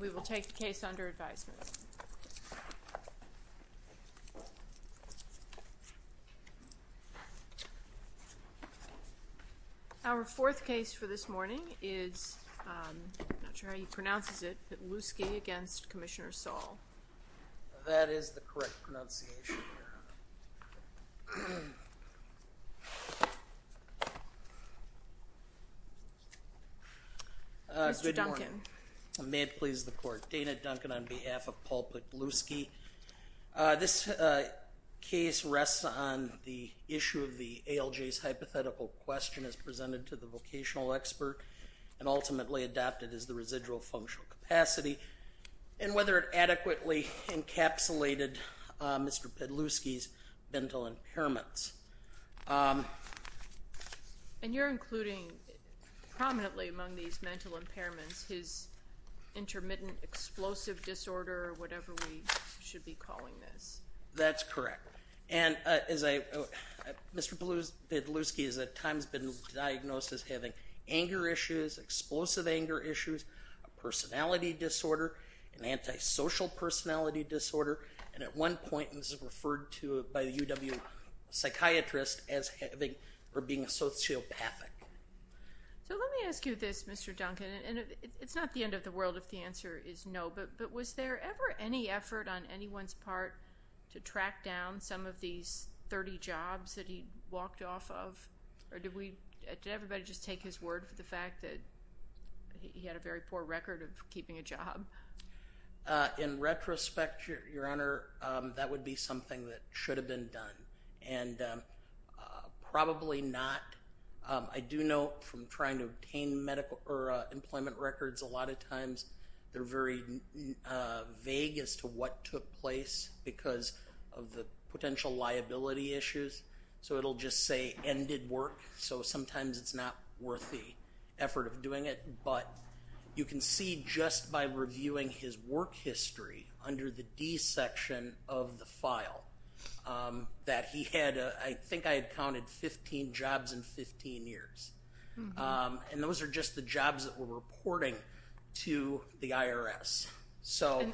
We will take the case under advisement. Our fourth case for this morning is, I'm not sure how he pronounces it, Pytlewski v. Commissioner Saul. That is the correct pronunciation. Mr. Duncan. May it please the court. Dana Duncan on behalf of Paul Pytlewski. This case rests on the issue of the ALJ's hypothetical question as presented to the vocational expert and ultimately adopted as the residual functional capacity and whether it adequately encapsulated Mr. Pytlewski's mental impairments. And you're including prominently among these mental impairments his intermittent explosive disorder or whatever we should be calling this. That's correct. And as I, Mr. Pytlewski has at times been diagnosed as having anger issues, explosive anger issues, a personality disorder, an antisocial personality disorder, and at one point this was referred to by the UW psychiatrist as having or being sociopathic. So let me ask you this, Mr. Duncan, and it's not the end of the world if the answer is no, but was there ever any effort on anyone's part to track down some of these 30 jobs that he walked off of or did everybody just take his word for the fact that he had a very poor record of keeping a job? In retrospect, Your Honor, that would be something that should have been done and probably not. I do know from trying to obtain medical or employment records a lot of times they're very vague as to what took place because of the potential liability issues. So it'll just say ended work, so sometimes it's not worth the effort of doing it. But you can see just by reviewing his work history under the D section of the file that he had, I think I had counted 15 jobs in 15 years. And those are just the jobs that were reporting to the IRS.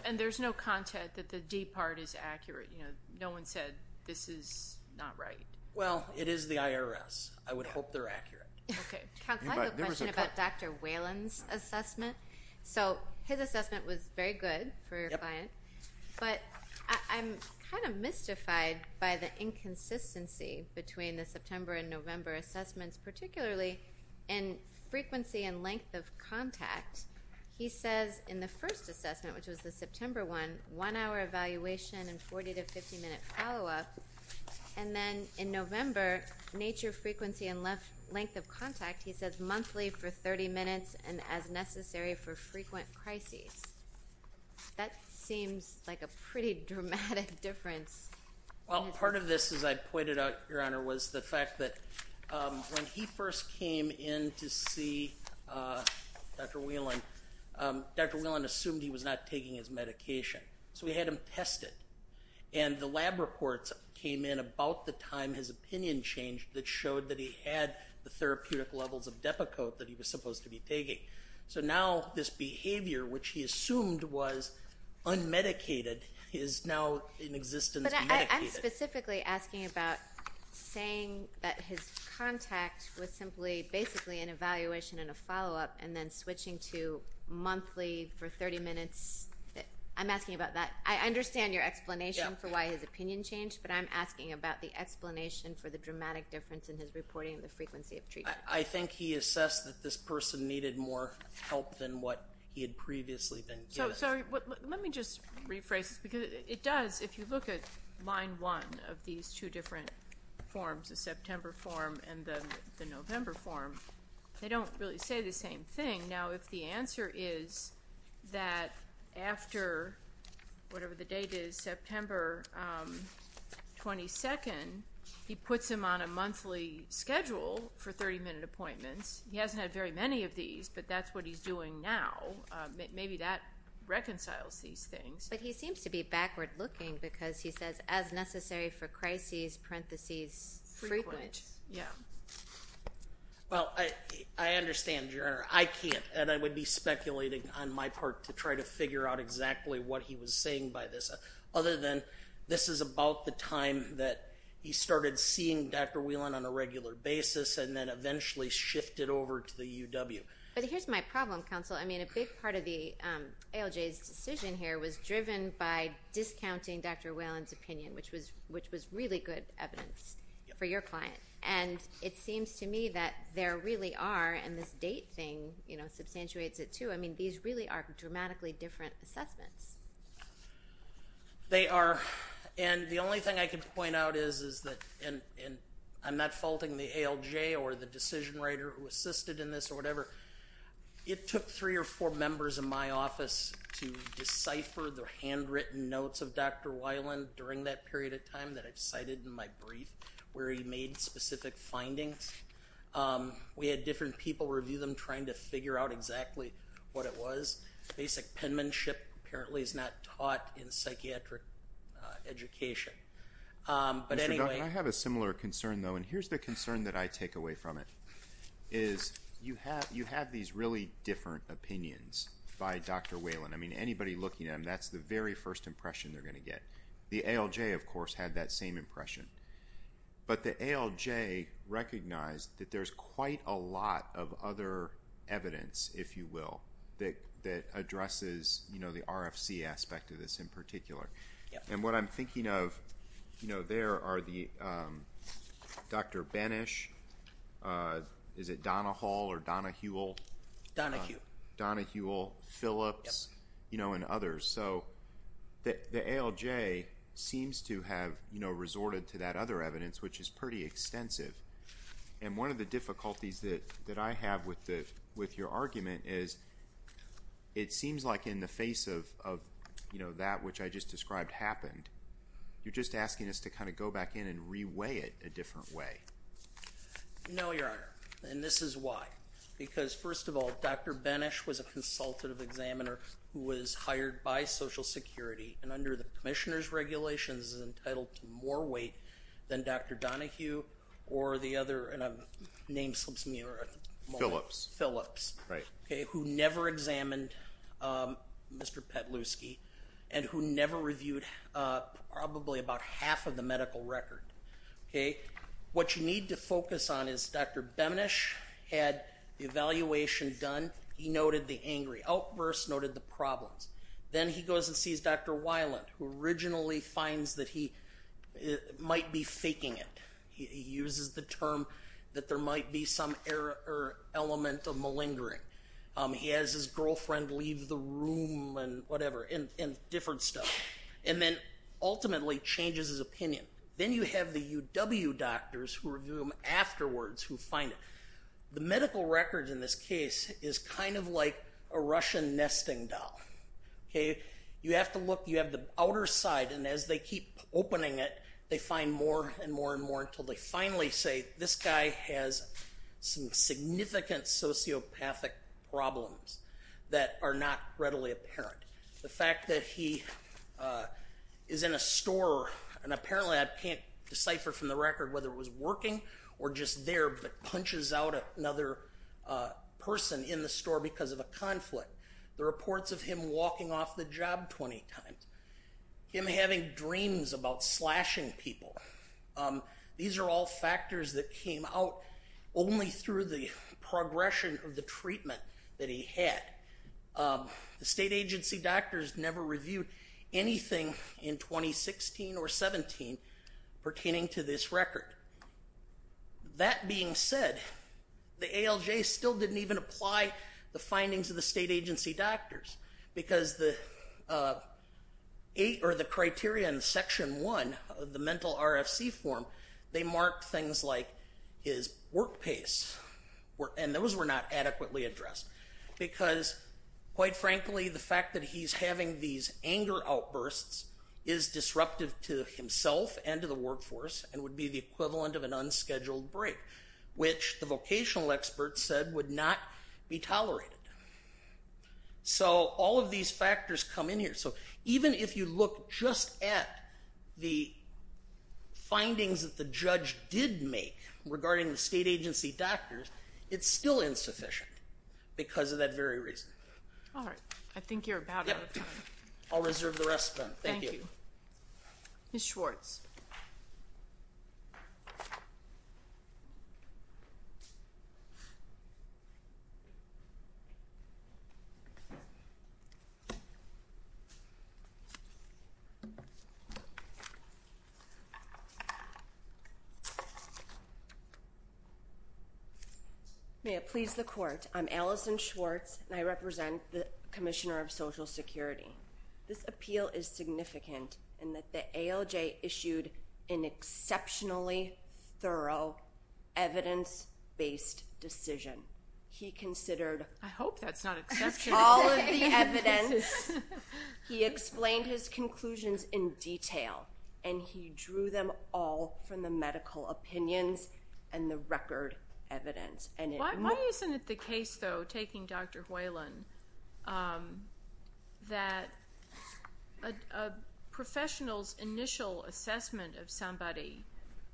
And there's no content that the D part is accurate, you know, no one said this is not right. Well, it is the IRS. I would hope they're accurate. Okay, Counsel, I have a question about Dr. Whalen's assessment. So his assessment was very good for a client, but I'm kind of mystified by the inconsistency between the September and November assessments, particularly in frequency and length of contact. He says in the first assessment, which was the September one, one hour evaluation and monthly for 30 minutes and as necessary for frequent crises. That seems like a pretty dramatic difference. Well, part of this, as I pointed out, Your Honor, was the fact that when he first came in to see Dr. Whalen, Dr. Whalen assumed he was not taking his medication. So we had him tested. And the lab reports came in about the time his opinion changed that showed that he had the therapeutic levels of Depakote that he was supposed to be taking. So now this behavior, which he assumed was unmedicated, is now in existence medicated. But I'm specifically asking about saying that his contact was simply basically an evaluation and a follow-up and then switching to monthly for 30 minutes. I'm asking about that. I understand your explanation for why his opinion changed, but I'm asking about the dramatic difference in his reporting and the frequency of treatment. I think he assessed that this person needed more help than what he had previously been given. So let me just rephrase this, because it does, if you look at line one of these two different forms, the September form and the November form, they don't really say the same thing. And now if the answer is that after, whatever the date is, September 22nd, he puts him on a monthly schedule for 30-minute appointments, he hasn't had very many of these, but that's what he's doing now. Maybe that reconciles these things. But he seems to be backward-looking because he says, as necessary for crises, parentheses, frequent. Frequent. Yeah. Well, I understand, Your Honor. I can't, and I would be speculating on my part to try to figure out exactly what he was saying by this, other than this is about the time that he started seeing Dr. Whelan on a regular basis and then eventually shifted over to the UW. But here's my problem, counsel. I mean, a big part of the ALJ's decision here was driven by discounting Dr. Whelan's opinion, which was really good evidence for your client. And it seems to me that there really are, and this date thing, you know, substantiates it too. I mean, these really are dramatically different assessments. They are. And the only thing I can point out is that, and I'm not faulting the ALJ or the decision writer who assisted in this or whatever. It took three or four members of my office to decipher the handwritten notes of Dr. Whelan during that period of time that I've cited in my brief, where he made specific findings. We had different people review them, trying to figure out exactly what it was. Basic penmanship apparently is not taught in psychiatric education. But anyway... Mr. Duncan, I have a similar concern, though, and here's the concern that I take away from it, is you have these really different opinions by Dr. Whelan. I mean, anybody looking at him, that's the very first impression they're going to get. The ALJ, of course, had that same impression. But the ALJ recognized that there's quite a lot of other evidence, if you will, that addresses, you know, the RFC aspect of this in particular. And what I'm thinking of, you know, there are the Dr. Benesch, is it Donna Hall or Donna Huell? Donna Huell. Donna Huell. Donna Huell. Phillips. Yep. You know, and others. So the ALJ seems to have, you know, resorted to that other evidence, which is pretty extensive. And one of the difficulties that I have with your argument is it seems like in the face of, you know, that which I just described happened, you're just asking us to kind of go back in and reweigh it a different way. No, Your Honor. And this is why. Because first of all, Dr. Benesch was a consultative examiner who was hired by Social Security and under the commissioner's regulations is entitled to more weight than Dr. Donahue or the other, and I'm nameslipsing here at the moment, Phillips, who never examined Mr. Petluski and who never reviewed probably about half of the medical record. Okay. What you need to focus on is Dr. Benesch had the evaluation done. He noted the angry outbursts, noted the problems. Then he goes and sees Dr. Weiland, who originally finds that he might be faking it. He uses the term that there might be some element of malingering. He has his girlfriend leave the room and whatever, and different stuff. And then ultimately changes his opinion. Then you have the UW doctors who review him afterwards who find it. The medical record in this case is kind of like a Russian nesting doll. You have to look, you have the outer side, and as they keep opening it, they find more and more and more until they finally say, this guy has some significant sociopathic problems that are not readily apparent. The fact that he is in a store, and apparently I can't decipher from the record whether it was working or just there, but punches out another person in the store because of a conflict. The reports of him walking off the job 20 times. Him having dreams about slashing people. These are all factors that came out only through the progression of the treatment that he had. The state agency doctors never reviewed anything in 2016 or 17 pertaining to this record. That being said, the ALJ still didn't even apply the findings of the state agency doctors because the eight or the criteria in section one of the mental RFC form, they marked things like his work pace, and those were not adequately addressed because, quite frankly, the fact that he's having these anger outbursts is disruptive to himself and to the workforce and would be the equivalent of an unscheduled break, which the vocational experts said would not be tolerated. So all of these factors come in here. So even if you look just at the findings that the judge did make regarding the state agency doctors, it's still insufficient because of that very reason. All right. I think you're about out of time. I'll reserve the rest of them. Thank you. Ms. Schwartz. May it please the court, I'm Allison Schwartz, and I represent the Commissioner of Social Security. This appeal is significant in that the ALJ issued an exceptionally thorough evidence-based decision. He considered- I hope that's not exception. All of the evidence, he explained his conclusions in detail, and he drew them all from the medical opinions and the record evidence. Why isn't it the case, though, taking Dr. Whalen, that a professional's initial assessment of somebody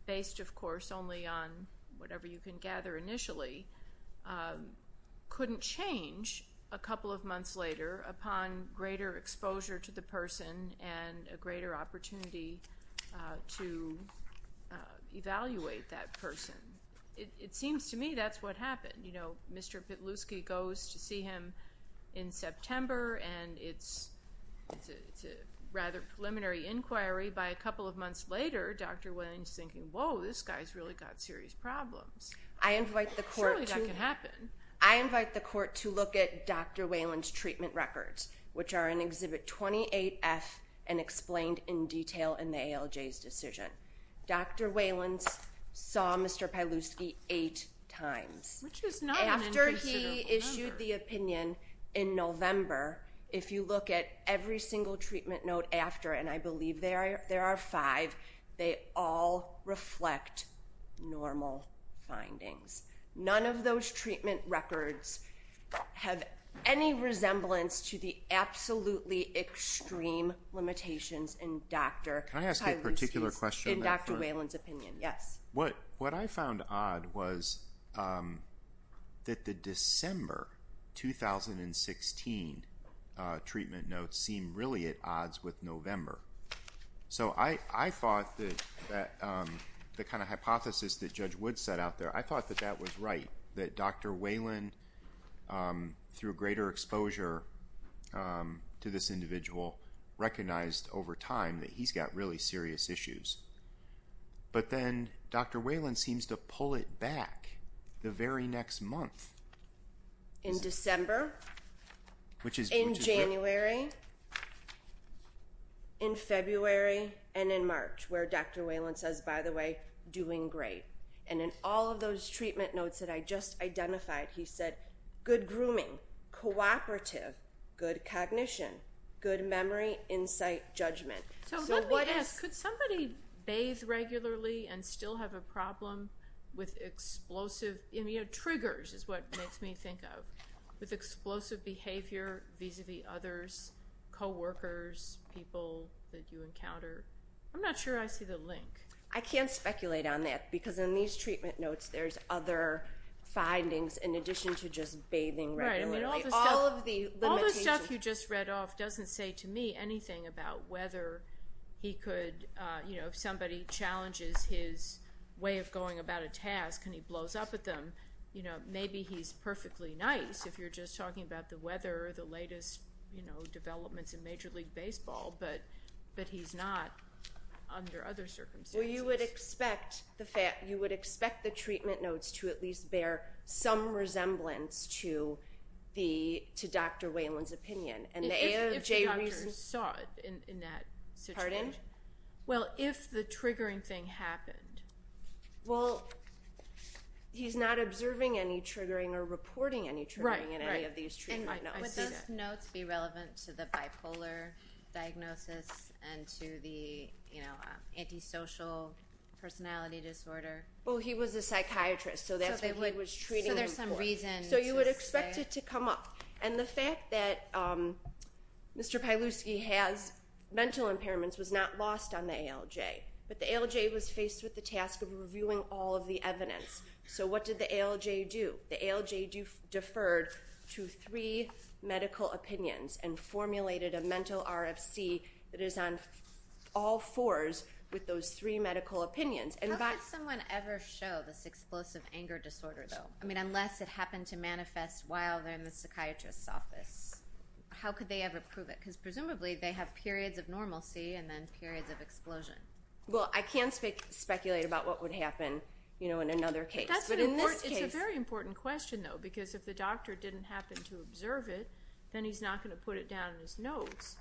based, of course, only on whatever you can gather initially, couldn't change a couple of months later upon greater exposure to the person and a greater opportunity to evaluate that person? It seems to me that's what happened. You know, Mr. Pitluski goes to see him in September, and it's a rather preliminary inquiry. By a couple of months later, Dr. Whalen's thinking, whoa, this guy's really got serious problems. I invite the court to- Surely that can happen. I invite the court to look at Dr. Whalen's treatment records, which are in Exhibit 28F and explained in detail in the ALJ's decision. Dr. Whalen saw Mr. Pitluski eight times. Which is not an inconsiderable number. If you look at every single treatment note after, and I believe there are five, they all reflect normal findings. None of those treatment records have any resemblance to the absolutely extreme limitations in Dr. Pitluski's- Can I ask a particular question? In Dr. Whalen's opinion, yes. What I found odd was that the December 2016 treatment notes seem really at odds with November. So I thought that the kind of hypothesis that Judge Wood set out there, I thought that that was right. That Dr. Whalen, through greater exposure to this individual, recognized over time that he's got really serious issues. But then Dr. Whalen seems to pull it back the very next month. In December, in January, in February, and in March, where Dr. Whalen says, by the way, doing great. And in all of those treatment notes that I just identified, he said, good grooming, cooperative, good cognition, good memory, insight, judgment. So let me ask, could somebody bathe regularly and still have a problem with explosive, triggers is what makes me think of, with explosive behavior vis-a-vis others, coworkers, people that you encounter? I'm not sure I see the link. I can't speculate on that because in these treatment notes there's other findings in addition to just bathing regularly. All the stuff you just read off doesn't say to me anything about whether he could, if somebody challenges his way of going about a task and he blows up at them, maybe he's perfectly nice if you're just talking about the weather or the latest developments in Major League Baseball. But he's not under other circumstances. Well, you would expect the treatment notes to at least bear some resemblance to Dr. Whalen's opinion. If the doctor saw it in that situation. Pardon? Well, if the triggering thing happened. Well, he's not observing any triggering or reporting any triggering in any of these treatment notes. Would those notes be relevant to the bipolar diagnosis and to the antisocial personality disorder? Well, he was a psychiatrist, so that's what he was treating him for. So there's some reason to say. So you would expect it to come up. And the fact that Mr. Pieluski has mental impairments was not lost on the ALJ, but the ALJ was faced with the task of reviewing all of the evidence. So what did the ALJ do? The ALJ deferred to three medical opinions and formulated a mental RFC that is on all fours with those three medical opinions. How could someone ever show this explosive anger disorder, though? I mean, unless it happened to manifest while they're in the psychiatrist's office. How could they ever prove it? Because presumably they have periods of normalcy and then periods of explosion. Well, I can speculate about what would happen in another case. It's a very important question, though, because if the doctor didn't happen to observe it, then he's not going to put it down in his notes.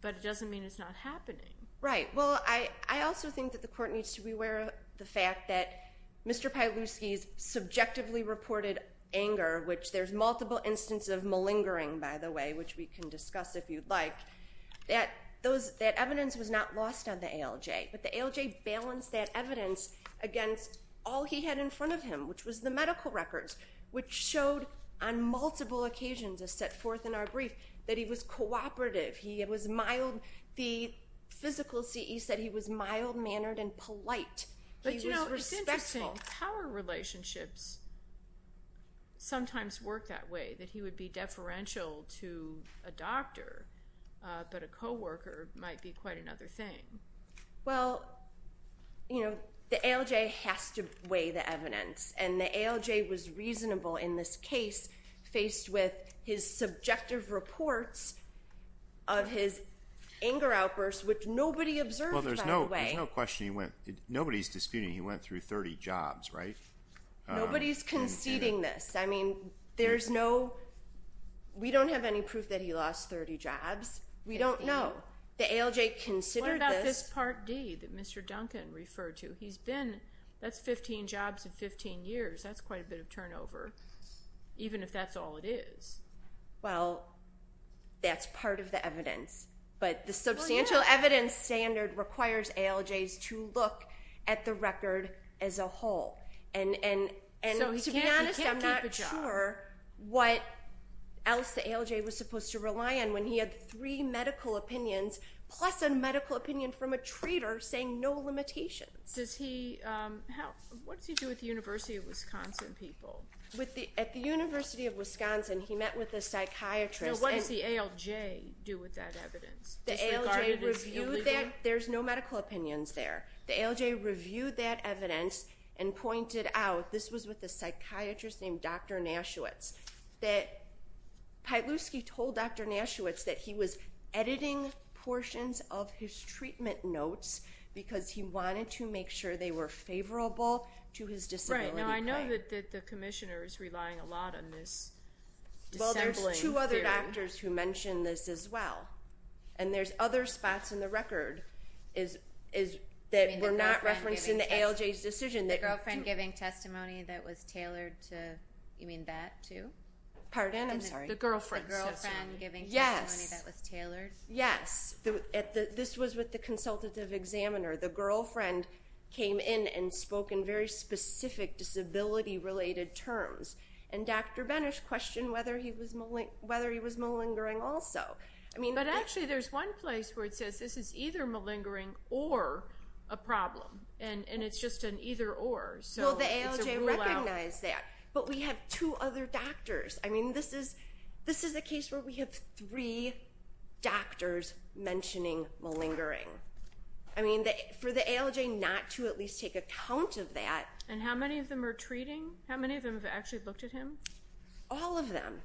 But it doesn't mean it's not happening. Right. Well, I also think that the court needs to be aware of the fact that Mr. Pieluski's subjectively reported anger, which there's multiple instances of malingering, by the way, which we can discuss if you'd like, that evidence was not lost on the ALJ. But the ALJ balanced that evidence against all he had in front of him, which was the medical records, which showed on multiple occasions as set forth in our brief that he was cooperative. He was mild. The physical CE said he was mild-mannered and polite. He was respectful. But, you know, it's interesting. Power relationships sometimes work that way, that he would be deferential to a doctor, but a co-worker might be quite another thing. Well, you know, the ALJ has to weigh the evidence, and the ALJ was reasonable in this case faced with his subjective reports of his anger outbursts, which nobody observed, by the way. Well, there's no question nobody's disputing he went through 30 jobs, right? Nobody's conceding this. I mean, there's no we don't have any proof that he lost 30 jobs. We don't know. The ALJ considered this. What about this Part D that Mr. Duncan referred to? That's 15 jobs in 15 years. That's quite a bit of turnover, even if that's all it is. Well, that's part of the evidence. But the substantial evidence standard requires ALJs to look at the record as a whole. So he can't keep a job. And to be honest, I'm not sure what else the ALJ was supposed to rely on when he had three medical opinions plus a medical opinion from a trader saying no limitations. What does he do with the University of Wisconsin people? At the University of Wisconsin, he met with a psychiatrist. Now, what does the ALJ do with that evidence? Does the ALJ review that? There's no medical opinions there. The ALJ reviewed that evidence and pointed out, this was with a psychiatrist named Dr. Nashewitz, that Pytluski told Dr. Nashewitz that he was editing portions of his treatment notes because he wanted to make sure they were favorable to his disability plan. Right. Now, I know that the commissioner is relying a lot on this dissembling theory. Well, there's two other doctors who mention this as well. And there's other spots in the record that were not referenced in the ALJ's decision. The girlfriend giving testimony that was tailored to, you mean that too? Pardon? I'm sorry. The girlfriend's testimony. The girlfriend giving testimony that was tailored? Yes. This was with the consultative examiner. The girlfriend came in and spoke in very specific disability-related terms. And Dr. Benes questioned whether he was malingering also. But actually, there's one place where it says this is either malingering or a problem. And it's just an either-or. Well, the ALJ recognized that. But we have two other doctors. I mean, this is a case where we have three doctors mentioning malingering. I mean, for the ALJ not to at least take account of that. And how many of them are treating? How many of them have actually looked at him? All of them.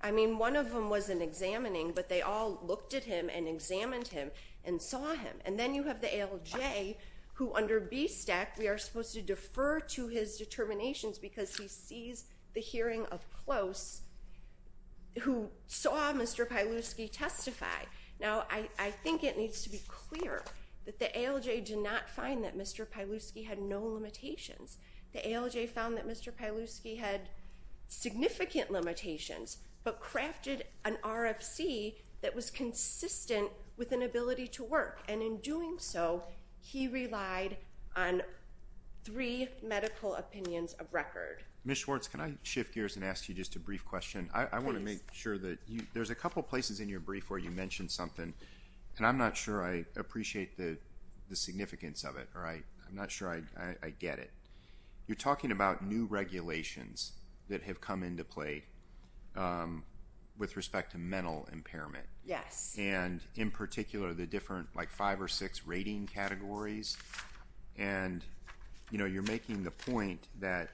I mean, one of them wasn't examining, but they all looked at him and examined him and saw him. And then you have the ALJ, who under BSTEC, we are supposed to defer to his determinations because he sees the hearing of close, who saw Mr. Pieluski testify. Now, I think it needs to be clear that the ALJ did not find that Mr. Pieluski had no limitations. The ALJ found that Mr. Pieluski had significant limitations, but crafted an RFC that was consistent with an ability to work. And in doing so, he relied on three medical opinions of record. Ms. Schwartz, can I shift gears and ask you just a brief question? I want to make sure that there's a couple places in your brief where you mentioned something, and I'm not sure I appreciate the significance of it, or I'm not sure I get it. You're talking about new regulations that have come into play with respect to mental impairment. Yes. And in particular, the different, like, five or six rating categories. And, you know, you're making the point that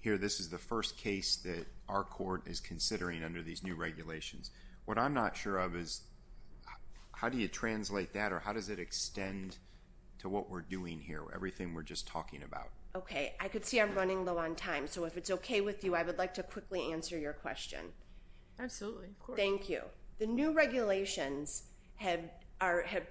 here this is the first case that our court is considering under these new regulations. What I'm not sure of is how do you translate that, or how does it extend to what we're doing here, or everything we're just talking about? Okay. I can see I'm running low on time, so if it's okay with you, I would like to quickly answer your question. Absolutely. Thank you. The new regulations have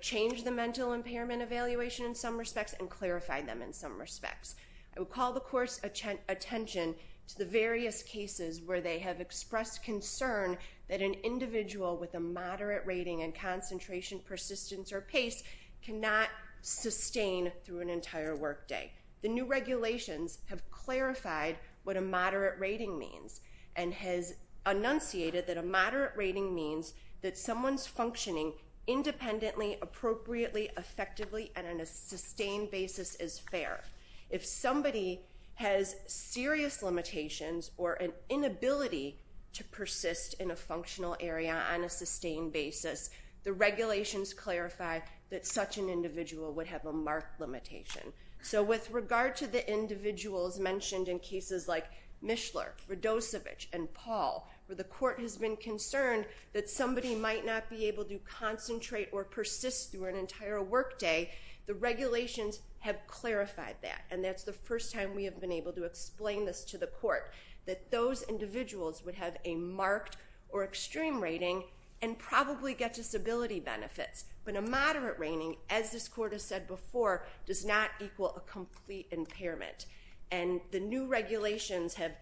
changed the mental impairment evaluation in some respects and clarified them in some respects. I would call the court's attention to the various cases where they have expressed concern that an individual with a moderate rating and concentration, persistence, or pace cannot sustain through an entire workday. The new regulations have clarified what a moderate rating means and has enunciated that a moderate rating means that someone's functioning independently, appropriately, effectively, and on a sustained basis is fair. If somebody has serious limitations or an inability to persist in a functional area on a sustained basis, the regulations clarify that such an individual would have a marked limitation. So with regard to the individuals mentioned in cases like Mishler, Radosevich, and Paul, where the court has been concerned that somebody might not be able to concentrate or persist through an entire workday, the regulations have clarified that, and that's the first time we have been able to explain this to the court, that those individuals would have a marked or extreme rating and probably get disability benefits. But a moderate rating, as this court has said before, does not equal a complete impairment. And the new regulations have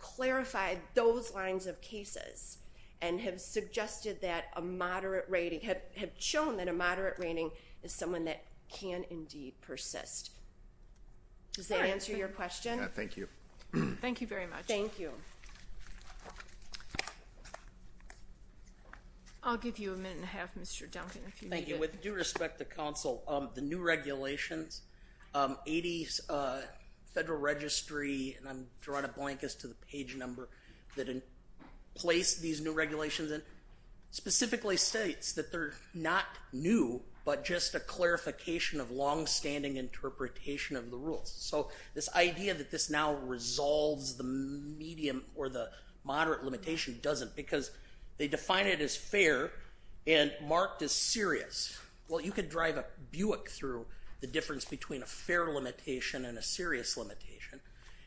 clarified those lines of cases and have shown that a moderate rating is someone that can indeed persist. Does that answer your question? Thank you. Thank you very much. Thank you. I'll give you a minute and a half, Mr. Duncan, if you need it. Thank you. With due respect to counsel, the new regulations, 80 Federal Registry, and I'm drawing a blank as to the page number that placed these new regulations in, specifically states that they're not new, but just a clarification of longstanding interpretation of the rules. So this idea that this now resolves the medium or the moderate limitation doesn't because they define it as fair and marked as serious. Well, you could drive a Buick through the difference between a fair limitation and a serious limitation,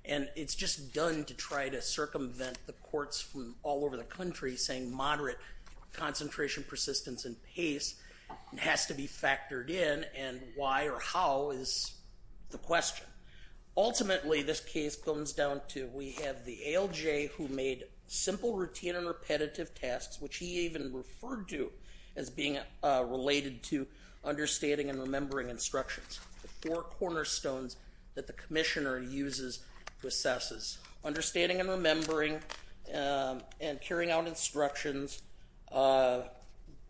and it's just done to try to circumvent the courts from all over the country saying moderate concentration, persistence, and pace has to be factored in, and why or how is the question. Ultimately, this case comes down to we have the ALJ who made simple routine and repetitive tasks, which he even referred to as being related to understanding and remembering instructions, the four cornerstones that the commissioner uses to assess this, understanding and remembering and carrying out instructions,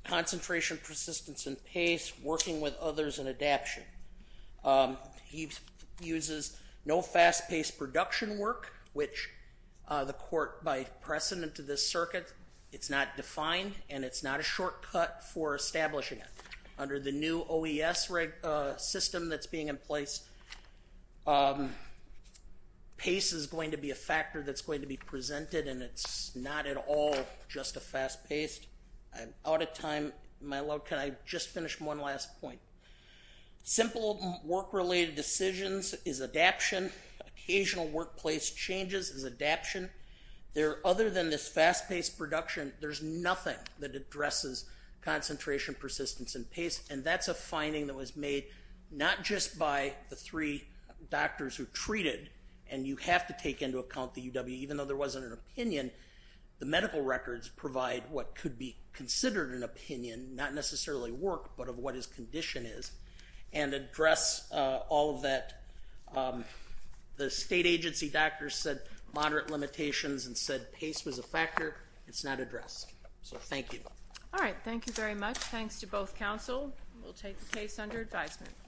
concentration, persistence, and pace, working with others in adaption. He uses no fast-paced production work, which the court, by precedent to this circuit, it's not defined and it's not a shortcut for establishing it. Under the new OES system that's being in place, pace is going to be a factor that's going to be presented and it's not at all just a fast-paced. I'm out of time. Can I just finish one last point? Simple work-related decisions is adaption. Occasional workplace changes is adaption. Other than this fast-paced production, there's nothing that addresses concentration, persistence, and pace, and that's a finding that was made not just by the three doctors who treated, and you have to take into account the UW, even though there wasn't an opinion, the medical records provide what could be considered an opinion, not necessarily work, but of what his condition is, and address all of that. The state agency doctor said moderate limitations and said pace was a factor. It's not addressed. So thank you. All right. Thank you very much. Thanks to both counsel. We'll take the case under advisement.